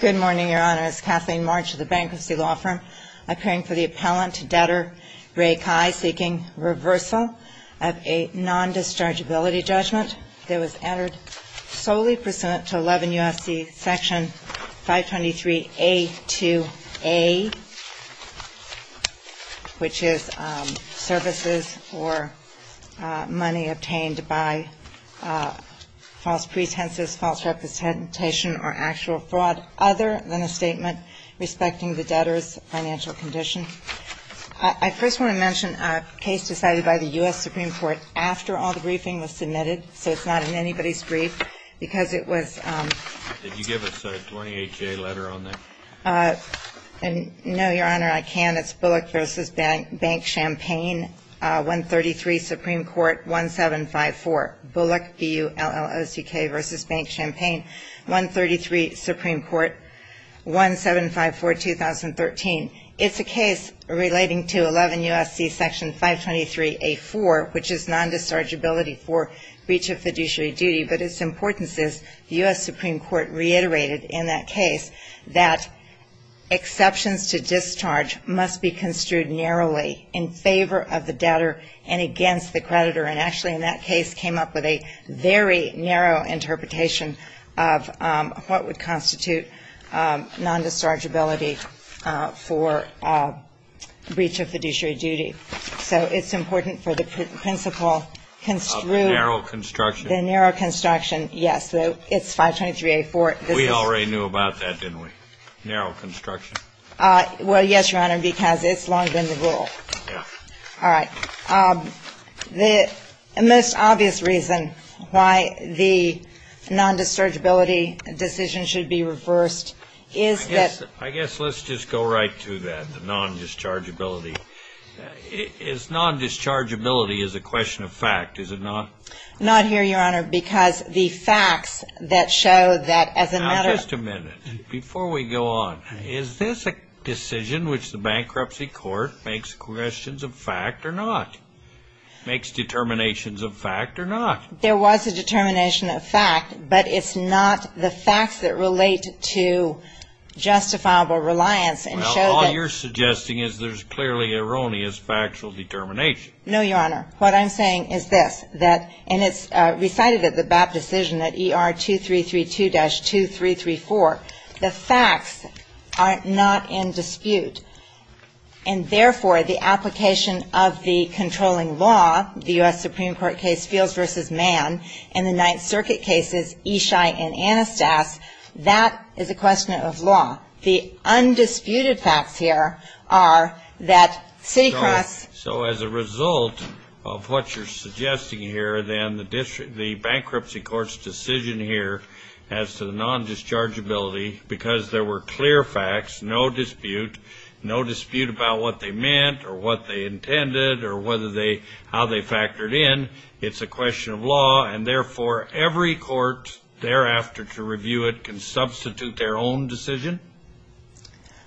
Good morning, Your Honors. Kathleen March of the Bankruptcy Law Firm, appearing for the Appellant to Debtor Ray Cai, seeking reversal of a non-dischargeability judgment that was entered solely pursuant to 11 U.S.C. Section 523A-2A, which is services or money obtained by false pretenses, false representation, or actual fraud other than a statement respecting the debtor's financial condition. I first want to mention a case decided by the U.S. Supreme Court after all the briefing was submitted, so it's not in anybody's brief, because it was Did you give us a 28-J letter on that? No, Your Honor, I can't. It's Bullock v. Bank Champagne, 133 Supreme Court, 1754. Bullock, B-U-L-L-O-C-K v. Bank Champagne, 133 Supreme Court, 1754, 2013. It's a case relating to 11 U.S.C. Section 523A-4, which is non-dischargeability for breach of fiduciary duty, but its importance is the U.S. Supreme Court reiterated in that case that exceptions to discharge must be construed narrowly in favor of the debtor and against the creditor. And actually in that case came up with a very narrow interpretation of what would constitute non-dischargeability for breach of fiduciary duty. So it's important for the principle construed Narrow construction. The narrow construction, yes. It's 523A-4. We already knew about that, didn't we? Narrow construction. Well, yes, Your Honor, because it's long been the rule. Yes. All right. The most obvious reason why the non-dischargeability decision should be reversed is that I guess let's just go right to that, the non-dischargeability. Is non-dischargeability is a question of fact, is it not? Not here, Your Honor, because the facts that show that as a matter Just a minute. Before we go on, is this a decision which the bankruptcy court makes questions of fact or not? Makes determinations of fact or not? There was a determination of fact, but it's not the facts that relate to justifiable reliance and show that Well, all you're suggesting is there's clearly erroneous factual determination. No, Your Honor. What I'm saying is this, and it's recited at the BAP decision, at ER 2332-2334, the facts are not in dispute. And therefore, the application of the controlling law, the U.S. Supreme Court case Fields v. Mann, and the Ninth Circuit cases Eshi and Anastas, that is a question of law. The undisputed facts here are that CityCross So as a result of what you're suggesting here, then the bankruptcy court's decision here as to the non-dischargeability Because there were clear facts, no dispute, no dispute about what they meant or what they intended or how they factored in It's a question of law, and therefore every court thereafter to review it can substitute their own decision?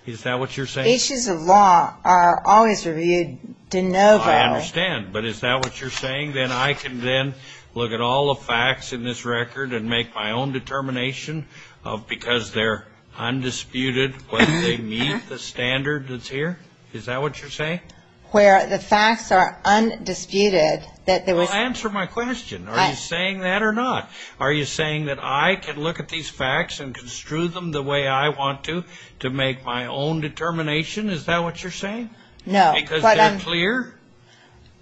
Is that what you're saying? Issues of law are always reviewed de novo. I understand, but is that what you're saying? Then I can then look at all the facts in this record and make my own determination Because they're undisputed, whether they meet the standard that's here? Is that what you're saying? Where the facts are undisputed, that there was Well, answer my question. Are you saying that or not? Are you saying that I can look at these facts and construe them the way I want to to make my own determination? Is that what you're saying? No. Because they're clear?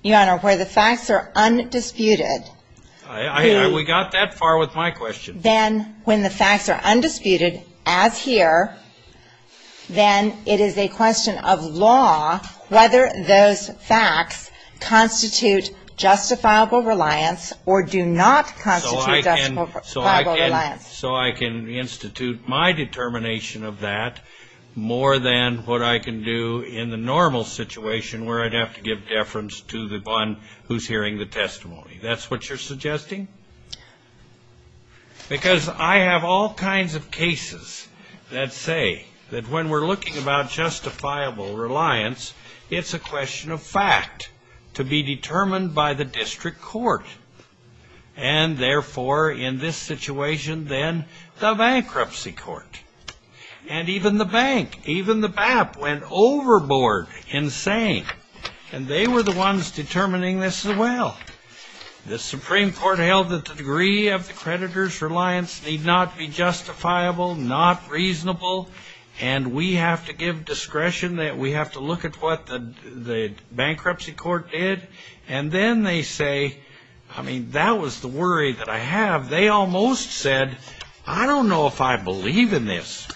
Your Honor, where the facts are undisputed We got that far with my question. Then when the facts are undisputed, as here, then it is a question of law whether those facts constitute justifiable reliance or do not constitute justifiable reliance. So I can institute my determination of that more than what I can do in the normal situation where I'd have to give deference to the one who's hearing the testimony. That's what you're suggesting? Because I have all kinds of cases that say that when we're looking about justifiable reliance, it's a question of fact to be determined by the district court. And therefore, in this situation, then the bankruptcy court and even the bank, even the BAP went overboard in saying, and they were the ones determining this as well. The Supreme Court held that the degree of the creditor's reliance need not be justifiable, not reasonable. And we have to give discretion. We have to look at what the bankruptcy court did. And then they say, I mean, that was the worry that I have. They almost said, I don't know if I believe in this.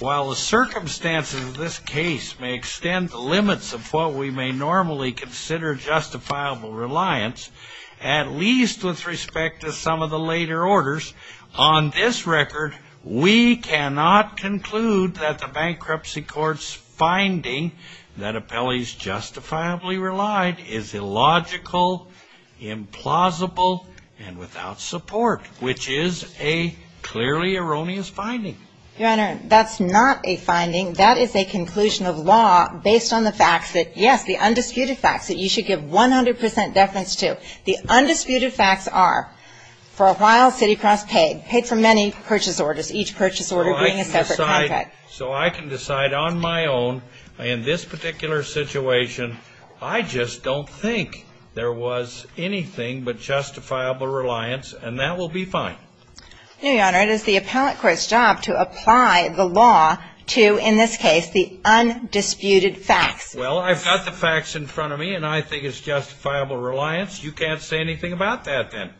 While the circumstances of this case may extend the limits of what we may normally consider justifiable reliance, at least with respect to some of the later orders, on this record, we cannot conclude that the bankruptcy court's finding that appellees justifiably relied is illogical, implausible, and without support, which is a clearly erroneous finding. Your Honor, that's not a finding. That is a conclusion of law based on the facts that, yes, the undisputed facts that you should give 100% deference to. The undisputed facts are, for a while, City Cross paid, paid for many purchase orders, each purchase order being a separate contract. So I can decide on my own in this particular situation, I just don't think there was anything but justifiable reliance, and that will be fine. No, Your Honor, it is the appellate court's job to apply the law to, in this case, the undisputed facts. Well, I've got the facts in front of me, and I think it's justifiable reliance. You can't say anything about that, then.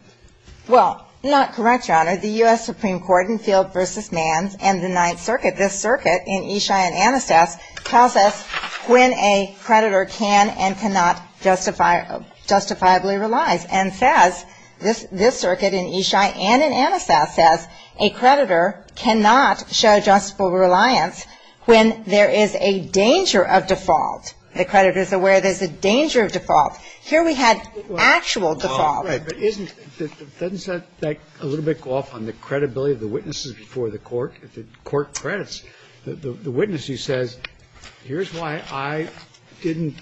Well, not correct, Your Honor. The U.S. Supreme Court in Field v. Nance and the Ninth Circuit, this circuit in Eshi and Anastas, tells us when a creditor can and cannot justifiably reliance, and says, this circuit in Eshi and in Anastas says a creditor cannot show justifiable reliance when there is a danger of default. The creditor is aware there's a danger of default. Here we had actual default. Right. But isn't, doesn't that a little bit go off on the credibility of the witnesses before the court? The witness who says, here's why I didn't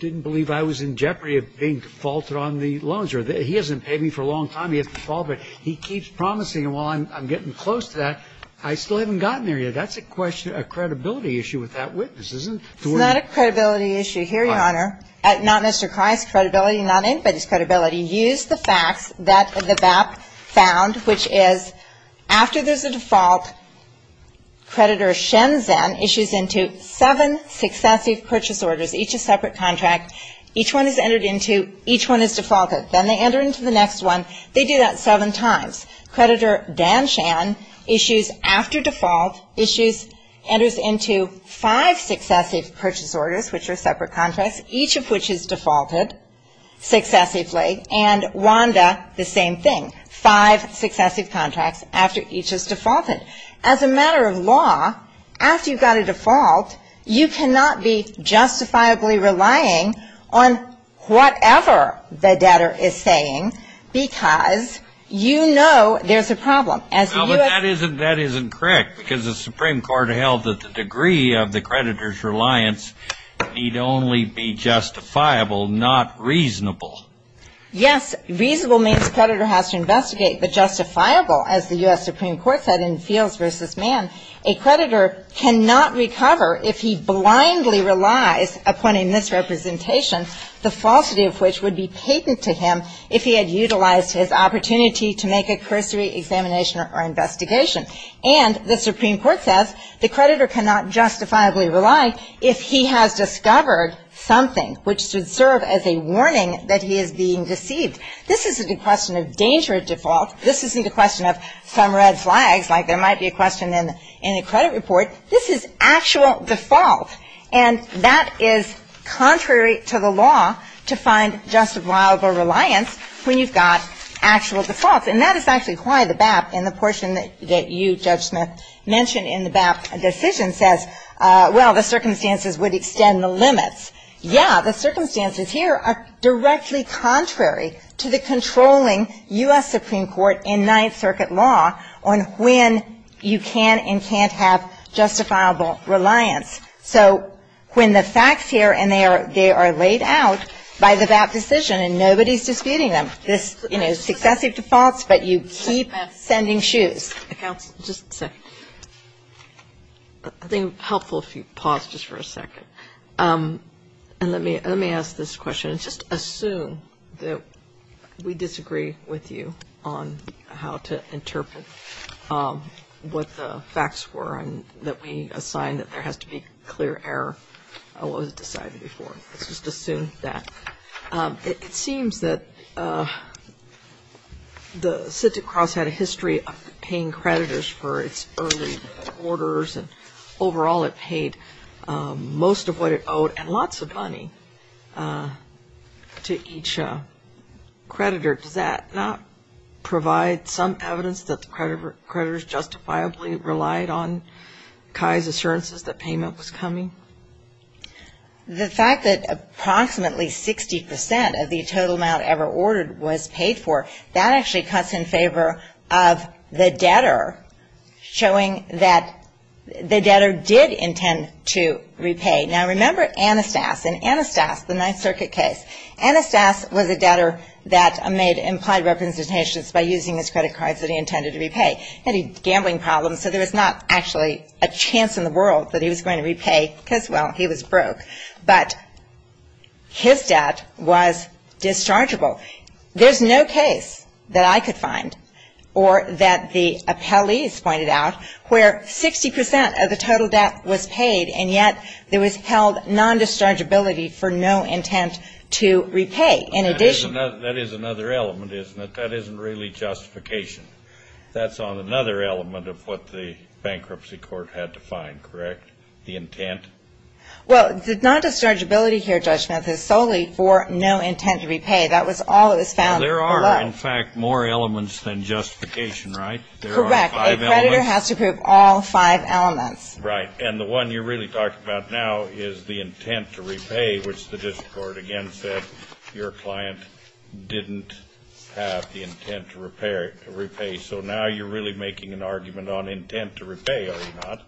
believe I was in jeopardy of being defaulted on the loans, or he hasn't paid me for a long time, he has defaulted, he keeps promising, and while I'm getting close to that, I still haven't gotten there yet. That's a question, a credibility issue with that witness, isn't it? It's not a credibility issue here, Your Honor. Not Mr. Christ's credibility, not anybody's credibility. Use the facts that the VAP found, which is, after there's a default, creditor Shenzhen issues into seven successive purchase orders, each a separate contract. Each one is entered into, each one is defaulted. Then they enter into the next one. They do that seven times. Creditor Danshan issues after default, issues, enters into five successive purchase orders, which are separate contracts, each of which is defaulted successively, and Wanda, the same thing, five successive contracts after each is defaulted. As a matter of law, after you've got a default, you cannot be justifiably relying on whatever the debtor is saying, because you know there's a problem. But that isn't correct, because the Supreme Court held that the degree of the creditor's reliance need only be justifiable, not reasonable. Yes. Reasonable means creditor has to investigate, but justifiable, as the U.S. Supreme Court said in Fields v. Mann, a creditor cannot recover if he blindly relies upon a misrepresentation, the falsity of which would be patent to him if he had utilized his opportunity to make a cursory examination or investigation. And the Supreme Court says the creditor cannot justifiably rely if he has discovered something, which should serve as a warning that he is being deceived. This isn't a question of danger at default. This isn't a question of some red flags, like there might be a question in a credit report. This is actual default. And that is contrary to the law to find justifiable reliance when you've got actual defaults. And that is actually why the BAP and the portion that you, Judge Smith, mentioned in the BAP decision says, well, the circumstances would extend the limits. Yeah, the circumstances here are directly contrary to the controlling U.S. Supreme Court in Ninth Circuit law on when you can and can't have justifiable reliance. So when the facts here and they are laid out by the BAP decision and nobody is disputing them, this, you know, successive defaults, but you keep sending shoes. Counsel, just a second. I think it would be helpful if you paused just for a second. And let me ask this question. Just assume that we disagree with you on how to interpret what the facts were and that we assign that there has to be clear error on what was decided before. Let's just assume that. It seems that the Scintic Cross had a history of paying creditors for its early orders, and overall it paid most of what it owed and lots of money to each creditor. Does that not provide some evidence that the creditors justifiably relied on Kai's assurances that payment was coming? The fact that approximately 60% of the total amount ever ordered was paid for, that actually cuts in favor of the debtor showing that the debtor did intend to repay. Now, remember Anastas. In Anastas, the Ninth Circuit case, Anastas was a debtor that made implied representations by using his credit cards that he intended to repay. He had a gambling problem, so there was not actually a chance in the world that he was going to repay because, well, he was broke. But his debt was dischargeable. There's no case that I could find or that the appellees pointed out where 60% of the total debt was paid and yet there was held non-dischargeability for no intent to repay. That is another element, isn't it? That isn't really justification. That's on another element of what the bankruptcy court had to find, correct, the intent? Well, the non-dischargeability here, Judge Smith, is solely for no intent to repay. That was all that was found below. There are, in fact, more elements than justification, right? Correct. A creditor has to prove all five elements. Right, and the one you're really talking about now is the intent to repay, which the district court again said your client didn't have the intent to repay. So now you're really making an argument on intent to repay, are you not,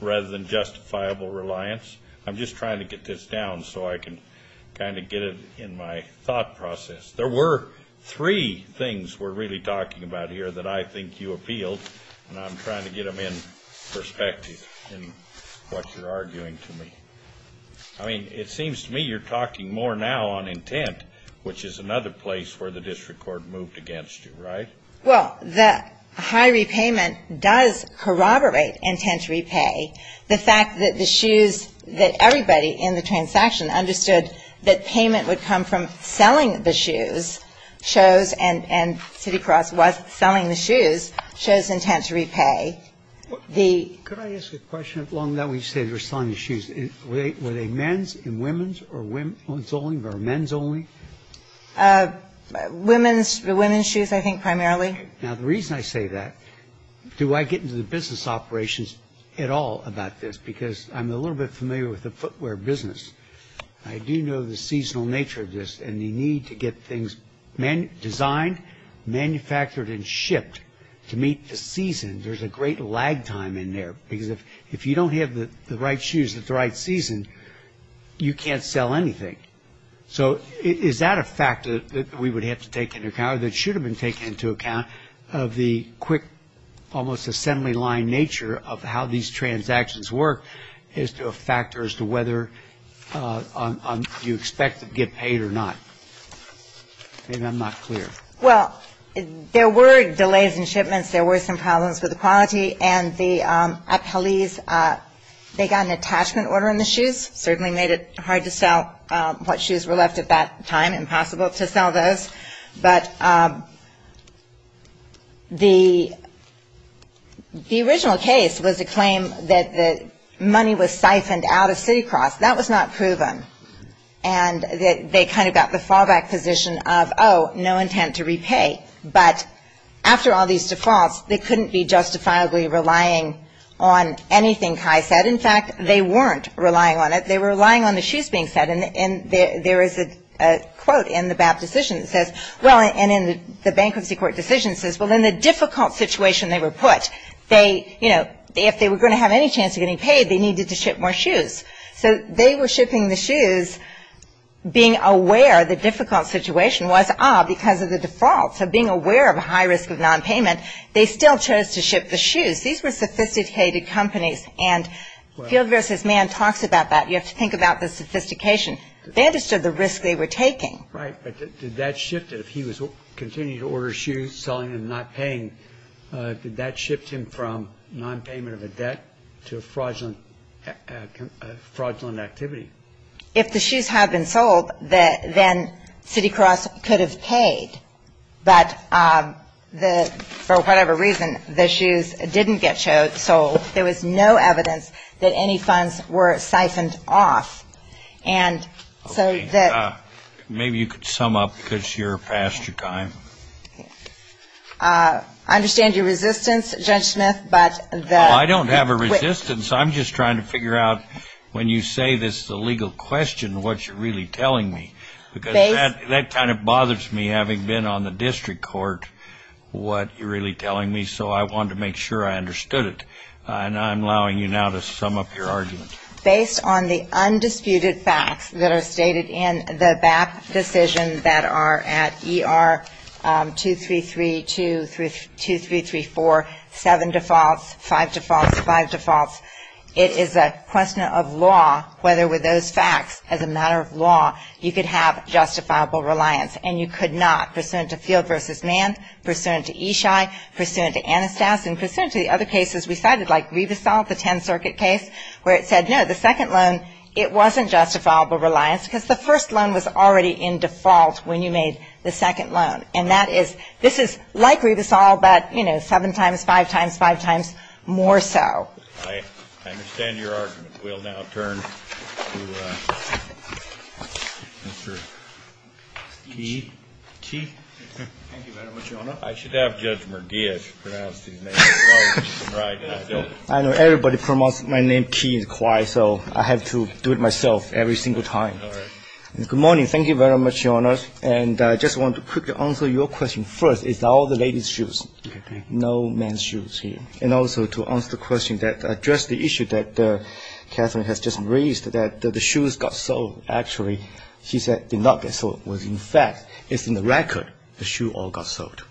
rather than justifiable reliance. I'm just trying to get this down so I can kind of get it in my thought process. There were three things we're really talking about here that I think you appealed, and I'm trying to get them in perspective in what you're arguing to me. I mean, it seems to me you're talking more now on intent, which is another place where the district court moved against you, right? Well, the high repayment does corroborate intent to repay. The fact that the shoes that everybody in the transaction understood that payment would come from selling the shoes shows, and Citicross was selling the shoes, shows intent to repay. Could I ask a question? Along that we say they were selling the shoes. Were they men's and women's or women's only or men's only? Women's shoes, I think, primarily. Now, the reason I say that, do I get into the business operations at all about this, because I'm a little bit familiar with the footwear business. I do know the seasonal nature of this, and the need to get things designed, manufactured, and shipped to meet the season. There's a great lag time in there, because if you don't have the right shoes at the right season, you can't sell anything. So is that a factor that we would have to take into account or that should have been taken into account of the quick, almost assembly line nature of how these transactions work as to a factor as to whether you expect to get paid or not? Maybe I'm not clear. Well, there were delays in shipments, there were some problems with the quality, and the appellees, they got an attachment order on the shoes, certainly made it hard to sell what shoes were left at that time, impossible to sell those. But the original case was a claim that the money was siphoned out of Citicross. That was not proven. And they kind of got the fallback position of, oh, no intent to repay. But after all these defaults, they couldn't be justifiably relying on anything Kai said. In fact, they weren't relying on it. They were relying on the shoes being said. And there is a quote in the BAP decision that says, well, and in the bankruptcy court decision says, well, in the difficult situation they were put, they, you know, if they were going to have any chance of getting paid, they needed to ship more shoes. So they were shipping the shoes being aware the difficult situation was, ah, because of the default. So being aware of a high risk of nonpayment, they still chose to ship the shoes. These were sophisticated companies. And Field vs. Mann talks about that. You have to think about the sophistication. They understood the risk they were taking. Right. But did that shift, if he was continuing to order shoes, selling them, not paying, did that shift him from nonpayment of a debt to a fraudulent activity? If the shoes had been sold, then Citicross could have paid. But for whatever reason, the shoes didn't get sold. There was no evidence that any funds were siphoned off. And so that. Maybe you could sum up because you're past your time. I understand your resistance, Judge Smith, but the. I don't have a resistance. I'm just trying to figure out when you say this is a legal question, what you're really telling me. Because that kind of bothers me, having been on the district court, what you're really telling me. So I wanted to make sure I understood it. And I'm allowing you now to sum up your argument. Based on the undisputed facts that are stated in the BAP decision that are at ER 233-2334, seven defaults, five defaults, five defaults, it is a question of law whether with those facts, as a matter of law, you could have justifiable reliance. And you could not. Pursuant to Field v. Mann, pursuant to Eshi, pursuant to Anastas, and pursuant to the other cases we cited, like Rivasol, the 10th Circuit case, where it said, no, the second loan, it wasn't justifiable reliance because the first loan was already in default when you made the second loan. And that is, this is like Rivasol, but, you know, seven times, five times, five times more so. I understand your argument. We'll now turn to Mr. Kee. Kee? Thank you very much, Your Honor. I should have Judge McGeer pronounce his name. Right. I know everybody promotes my name, Kee, so I have to do it myself every single time. Good morning. Thank you very much, Your Honor. And I just want to quickly answer your question. First, it's all the ladies' shoes. Okay. No men's shoes here. And also to answer the question that addressed the issue that Katherine has just raised, that the shoes got sold. Actually, she said they did not get sold. In fact, it's in the record the shoe all got sold.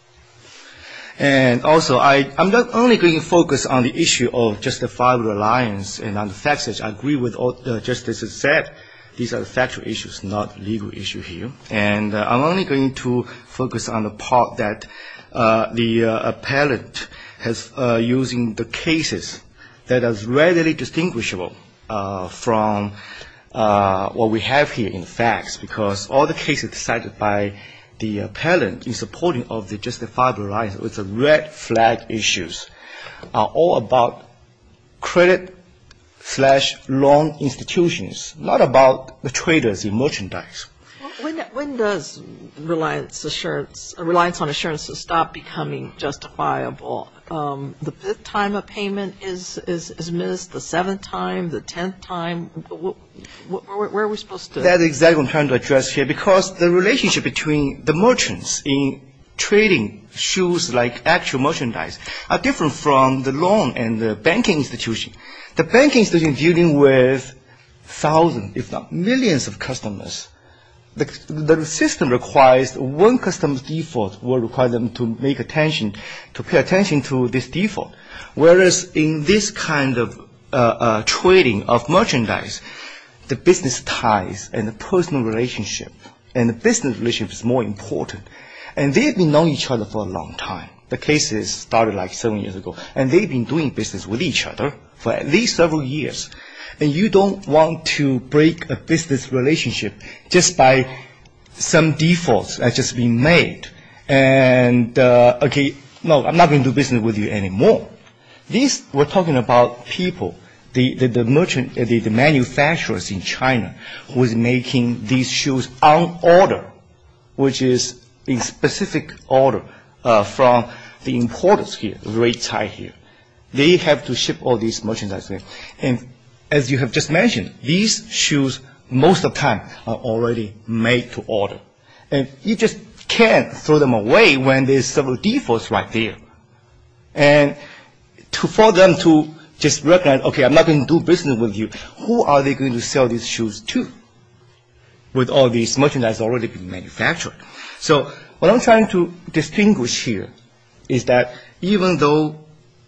And also, I'm not only going to focus on the issue of justifiable reliance and on the facts, as I agree with all the justices have said, these are factual issues, not legal issues here. And I'm only going to focus on the part that the appellant is using the cases that is readily distinguishable from what we have here in the facts because all the cases cited by the appellant in support of the justifiable reliance with the red flag issues are all about credit-slash-loan institutions, not about the traders in merchandise. When does reliance assurance, reliance on assurance stop becoming justifiable? The fifth time a payment is missed, the seventh time, the tenth time? Where are we supposed to? That's exactly what I'm trying to address here because the relationship between the merchants in trading shoes like actual merchandise are different from the loan and the banking institution. The banking institution is dealing with thousands, if not millions of customers. The system requires one customer's default will require them to pay attention to this default, whereas in this kind of trading of merchandise, the business ties and the personal relationship and the business relationship is more important. And they've been knowing each other for a long time. The cases started like seven years ago. And they've been doing business with each other for at least several years. And you don't want to break a business relationship just by some defaults that have just been made. And, okay, no, I'm not going to do business with you anymore. We're talking about people, the manufacturers in China who is making these shoes on order, which is in specific order from the importers here, the rate tie here. They have to ship all these merchandise. And as you have just mentioned, these shoes most of the time are already made to order. And you just can't throw them away when there's several defaults right there. And for them to just recognize, okay, I'm not going to do business with you, who are they going to sell these shoes to with all this merchandise already being manufactured? So what I'm trying to distinguish here is that even though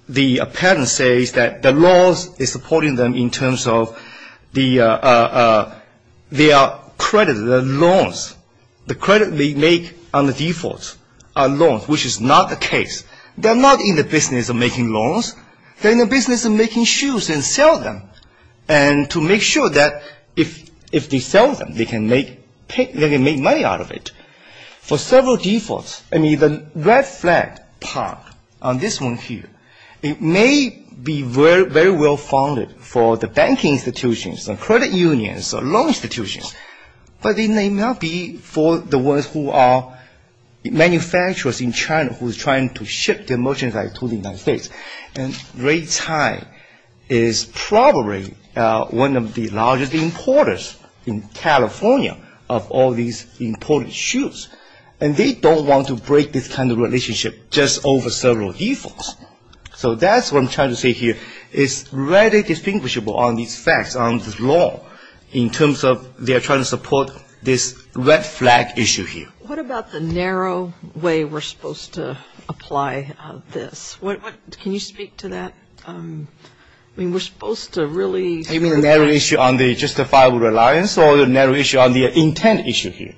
the patent says that the laws are supporting them in terms of their credit, their loans, the credit they make on the defaults are loans, which is not the case. They're not in the business of making loans. They're in the business of making shoes and sell them. And to make sure that if they sell them, they can make money out of it. For several defaults, I mean the red flag part on this one here, it may be very well funded for the banking institutions and credit unions and loan institutions, but it may not be for the ones who are manufacturers in China who is trying to ship their merchandise to the United States. And Ray Tsai is probably one of the largest importers in California of all these imported shoes. And they don't want to break this kind of relationship just over several defaults. So that's what I'm trying to say here. It's very distinguishable on these facts, on this law, in terms of they're trying to support this red flag issue here. What about the narrow way we're supposed to apply this? Can you speak to that? I mean we're supposed to really. You mean the narrow issue on the justifiable reliance or the narrow issue on the intent issue here?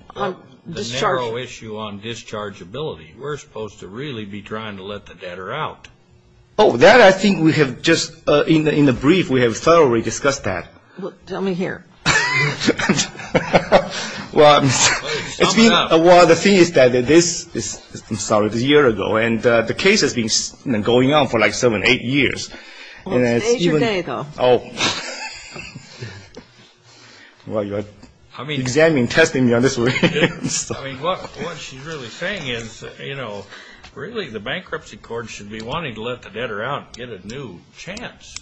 The narrow issue on dischargeability. We're supposed to really be trying to let the debtor out. Oh, that I think we have just in the brief we have thoroughly discussed that. Well, tell me here. Well, the thing is that this is, I'm sorry, a year ago, and the case has been going on for like seven, eight years. Well, today's your day, though. Oh. Well, you're examining, testing me on this. I mean, what she's really saying is, you know, really the bankruptcy court should be wanting to let the debtor out and get a new chance.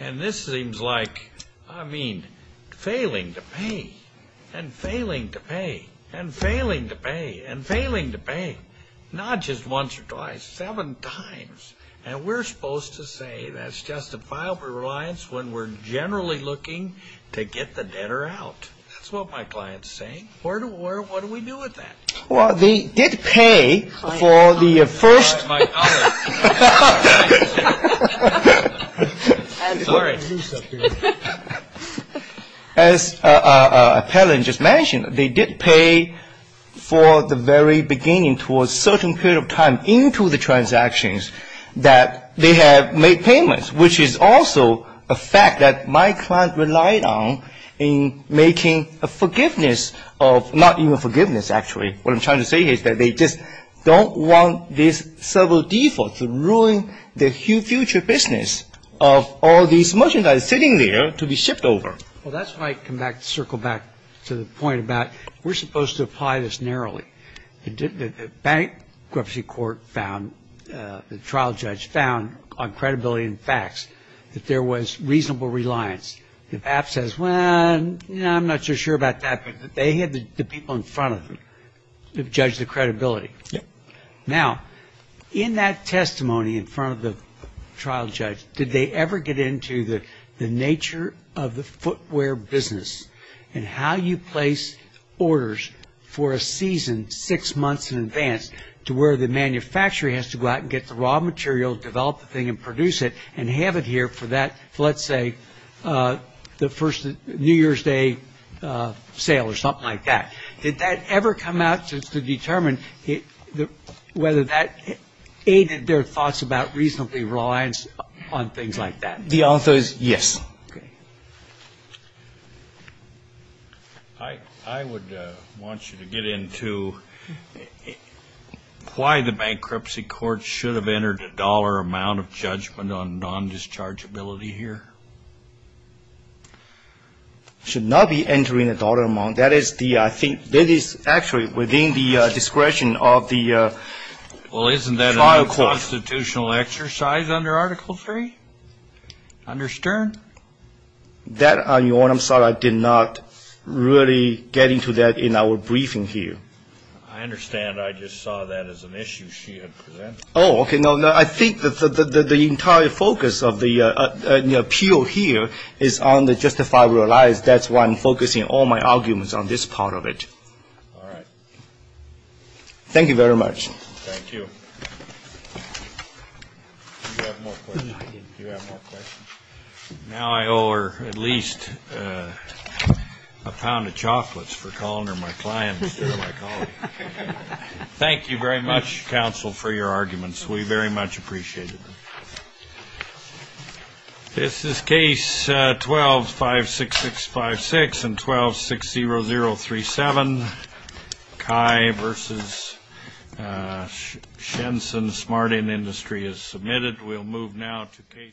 And this seems like, I mean, failing to pay and failing to pay and failing to pay and failing to pay, not just once or twice, seven times. And we're supposed to say that's justifiable reliance when we're generally looking to get the debtor out. That's what my client's saying. What do we do with that? Well, they did pay for the first. Oh, my God. I'm sorry. As Appellant just mentioned, they did pay for the very beginning towards certain period of time into the transactions that they have made payments, which is also a fact that my client relied on in making a forgiveness of not even forgiveness, actually. What I'm trying to say is that they just don't want these several defaults to ruin the future business of all these merchandise sitting there to be shipped over. Well, that's why I come back, circle back to the point about we're supposed to apply this narrowly. Bankruptcy court found, the trial judge found on credibility and facts that there was reasonable reliance. If App says, well, I'm not so sure about that, but they had the people in front of them judge the credibility. Now, in that testimony in front of the trial judge, did they ever get into the nature of the footwear business and how you place orders for a season six months in advance to where the manufacturer has to go out and get the raw material, develop the thing and produce it and have it here for that, let's say, the first New Year's Day sale or something like that? Did that ever come out to determine whether that aided their thoughts about reasonably reliance on things like that? The answer is yes. I would want you to get into why the bankruptcy court should have entered a dollar amount of judgment on non-dischargeability here. It should not be entering a dollar amount. That is actually within the discretion of the trial court. Was there a constitutional exercise under Article III, under Stern? That, Your Honor, I'm sorry, I did not really get into that in our briefing here. I understand. I just saw that as an issue she had presented. Oh, okay. No, I think the entire focus of the appeal here is on the justifiable reliance. That's why I'm focusing all my arguments on this part of it. All right. Thank you very much. Thank you. Do you have more questions? Do you have more questions? Now I owe her at least a pound of chocolates for calling her my client instead of my colleague. Thank you very much, counsel, for your arguments. We very much appreciate it. This is Case 12-56656 and 12-60037. Kai v. Shenson, Smarting Industry, is submitted. We'll move now to Case 12-5665.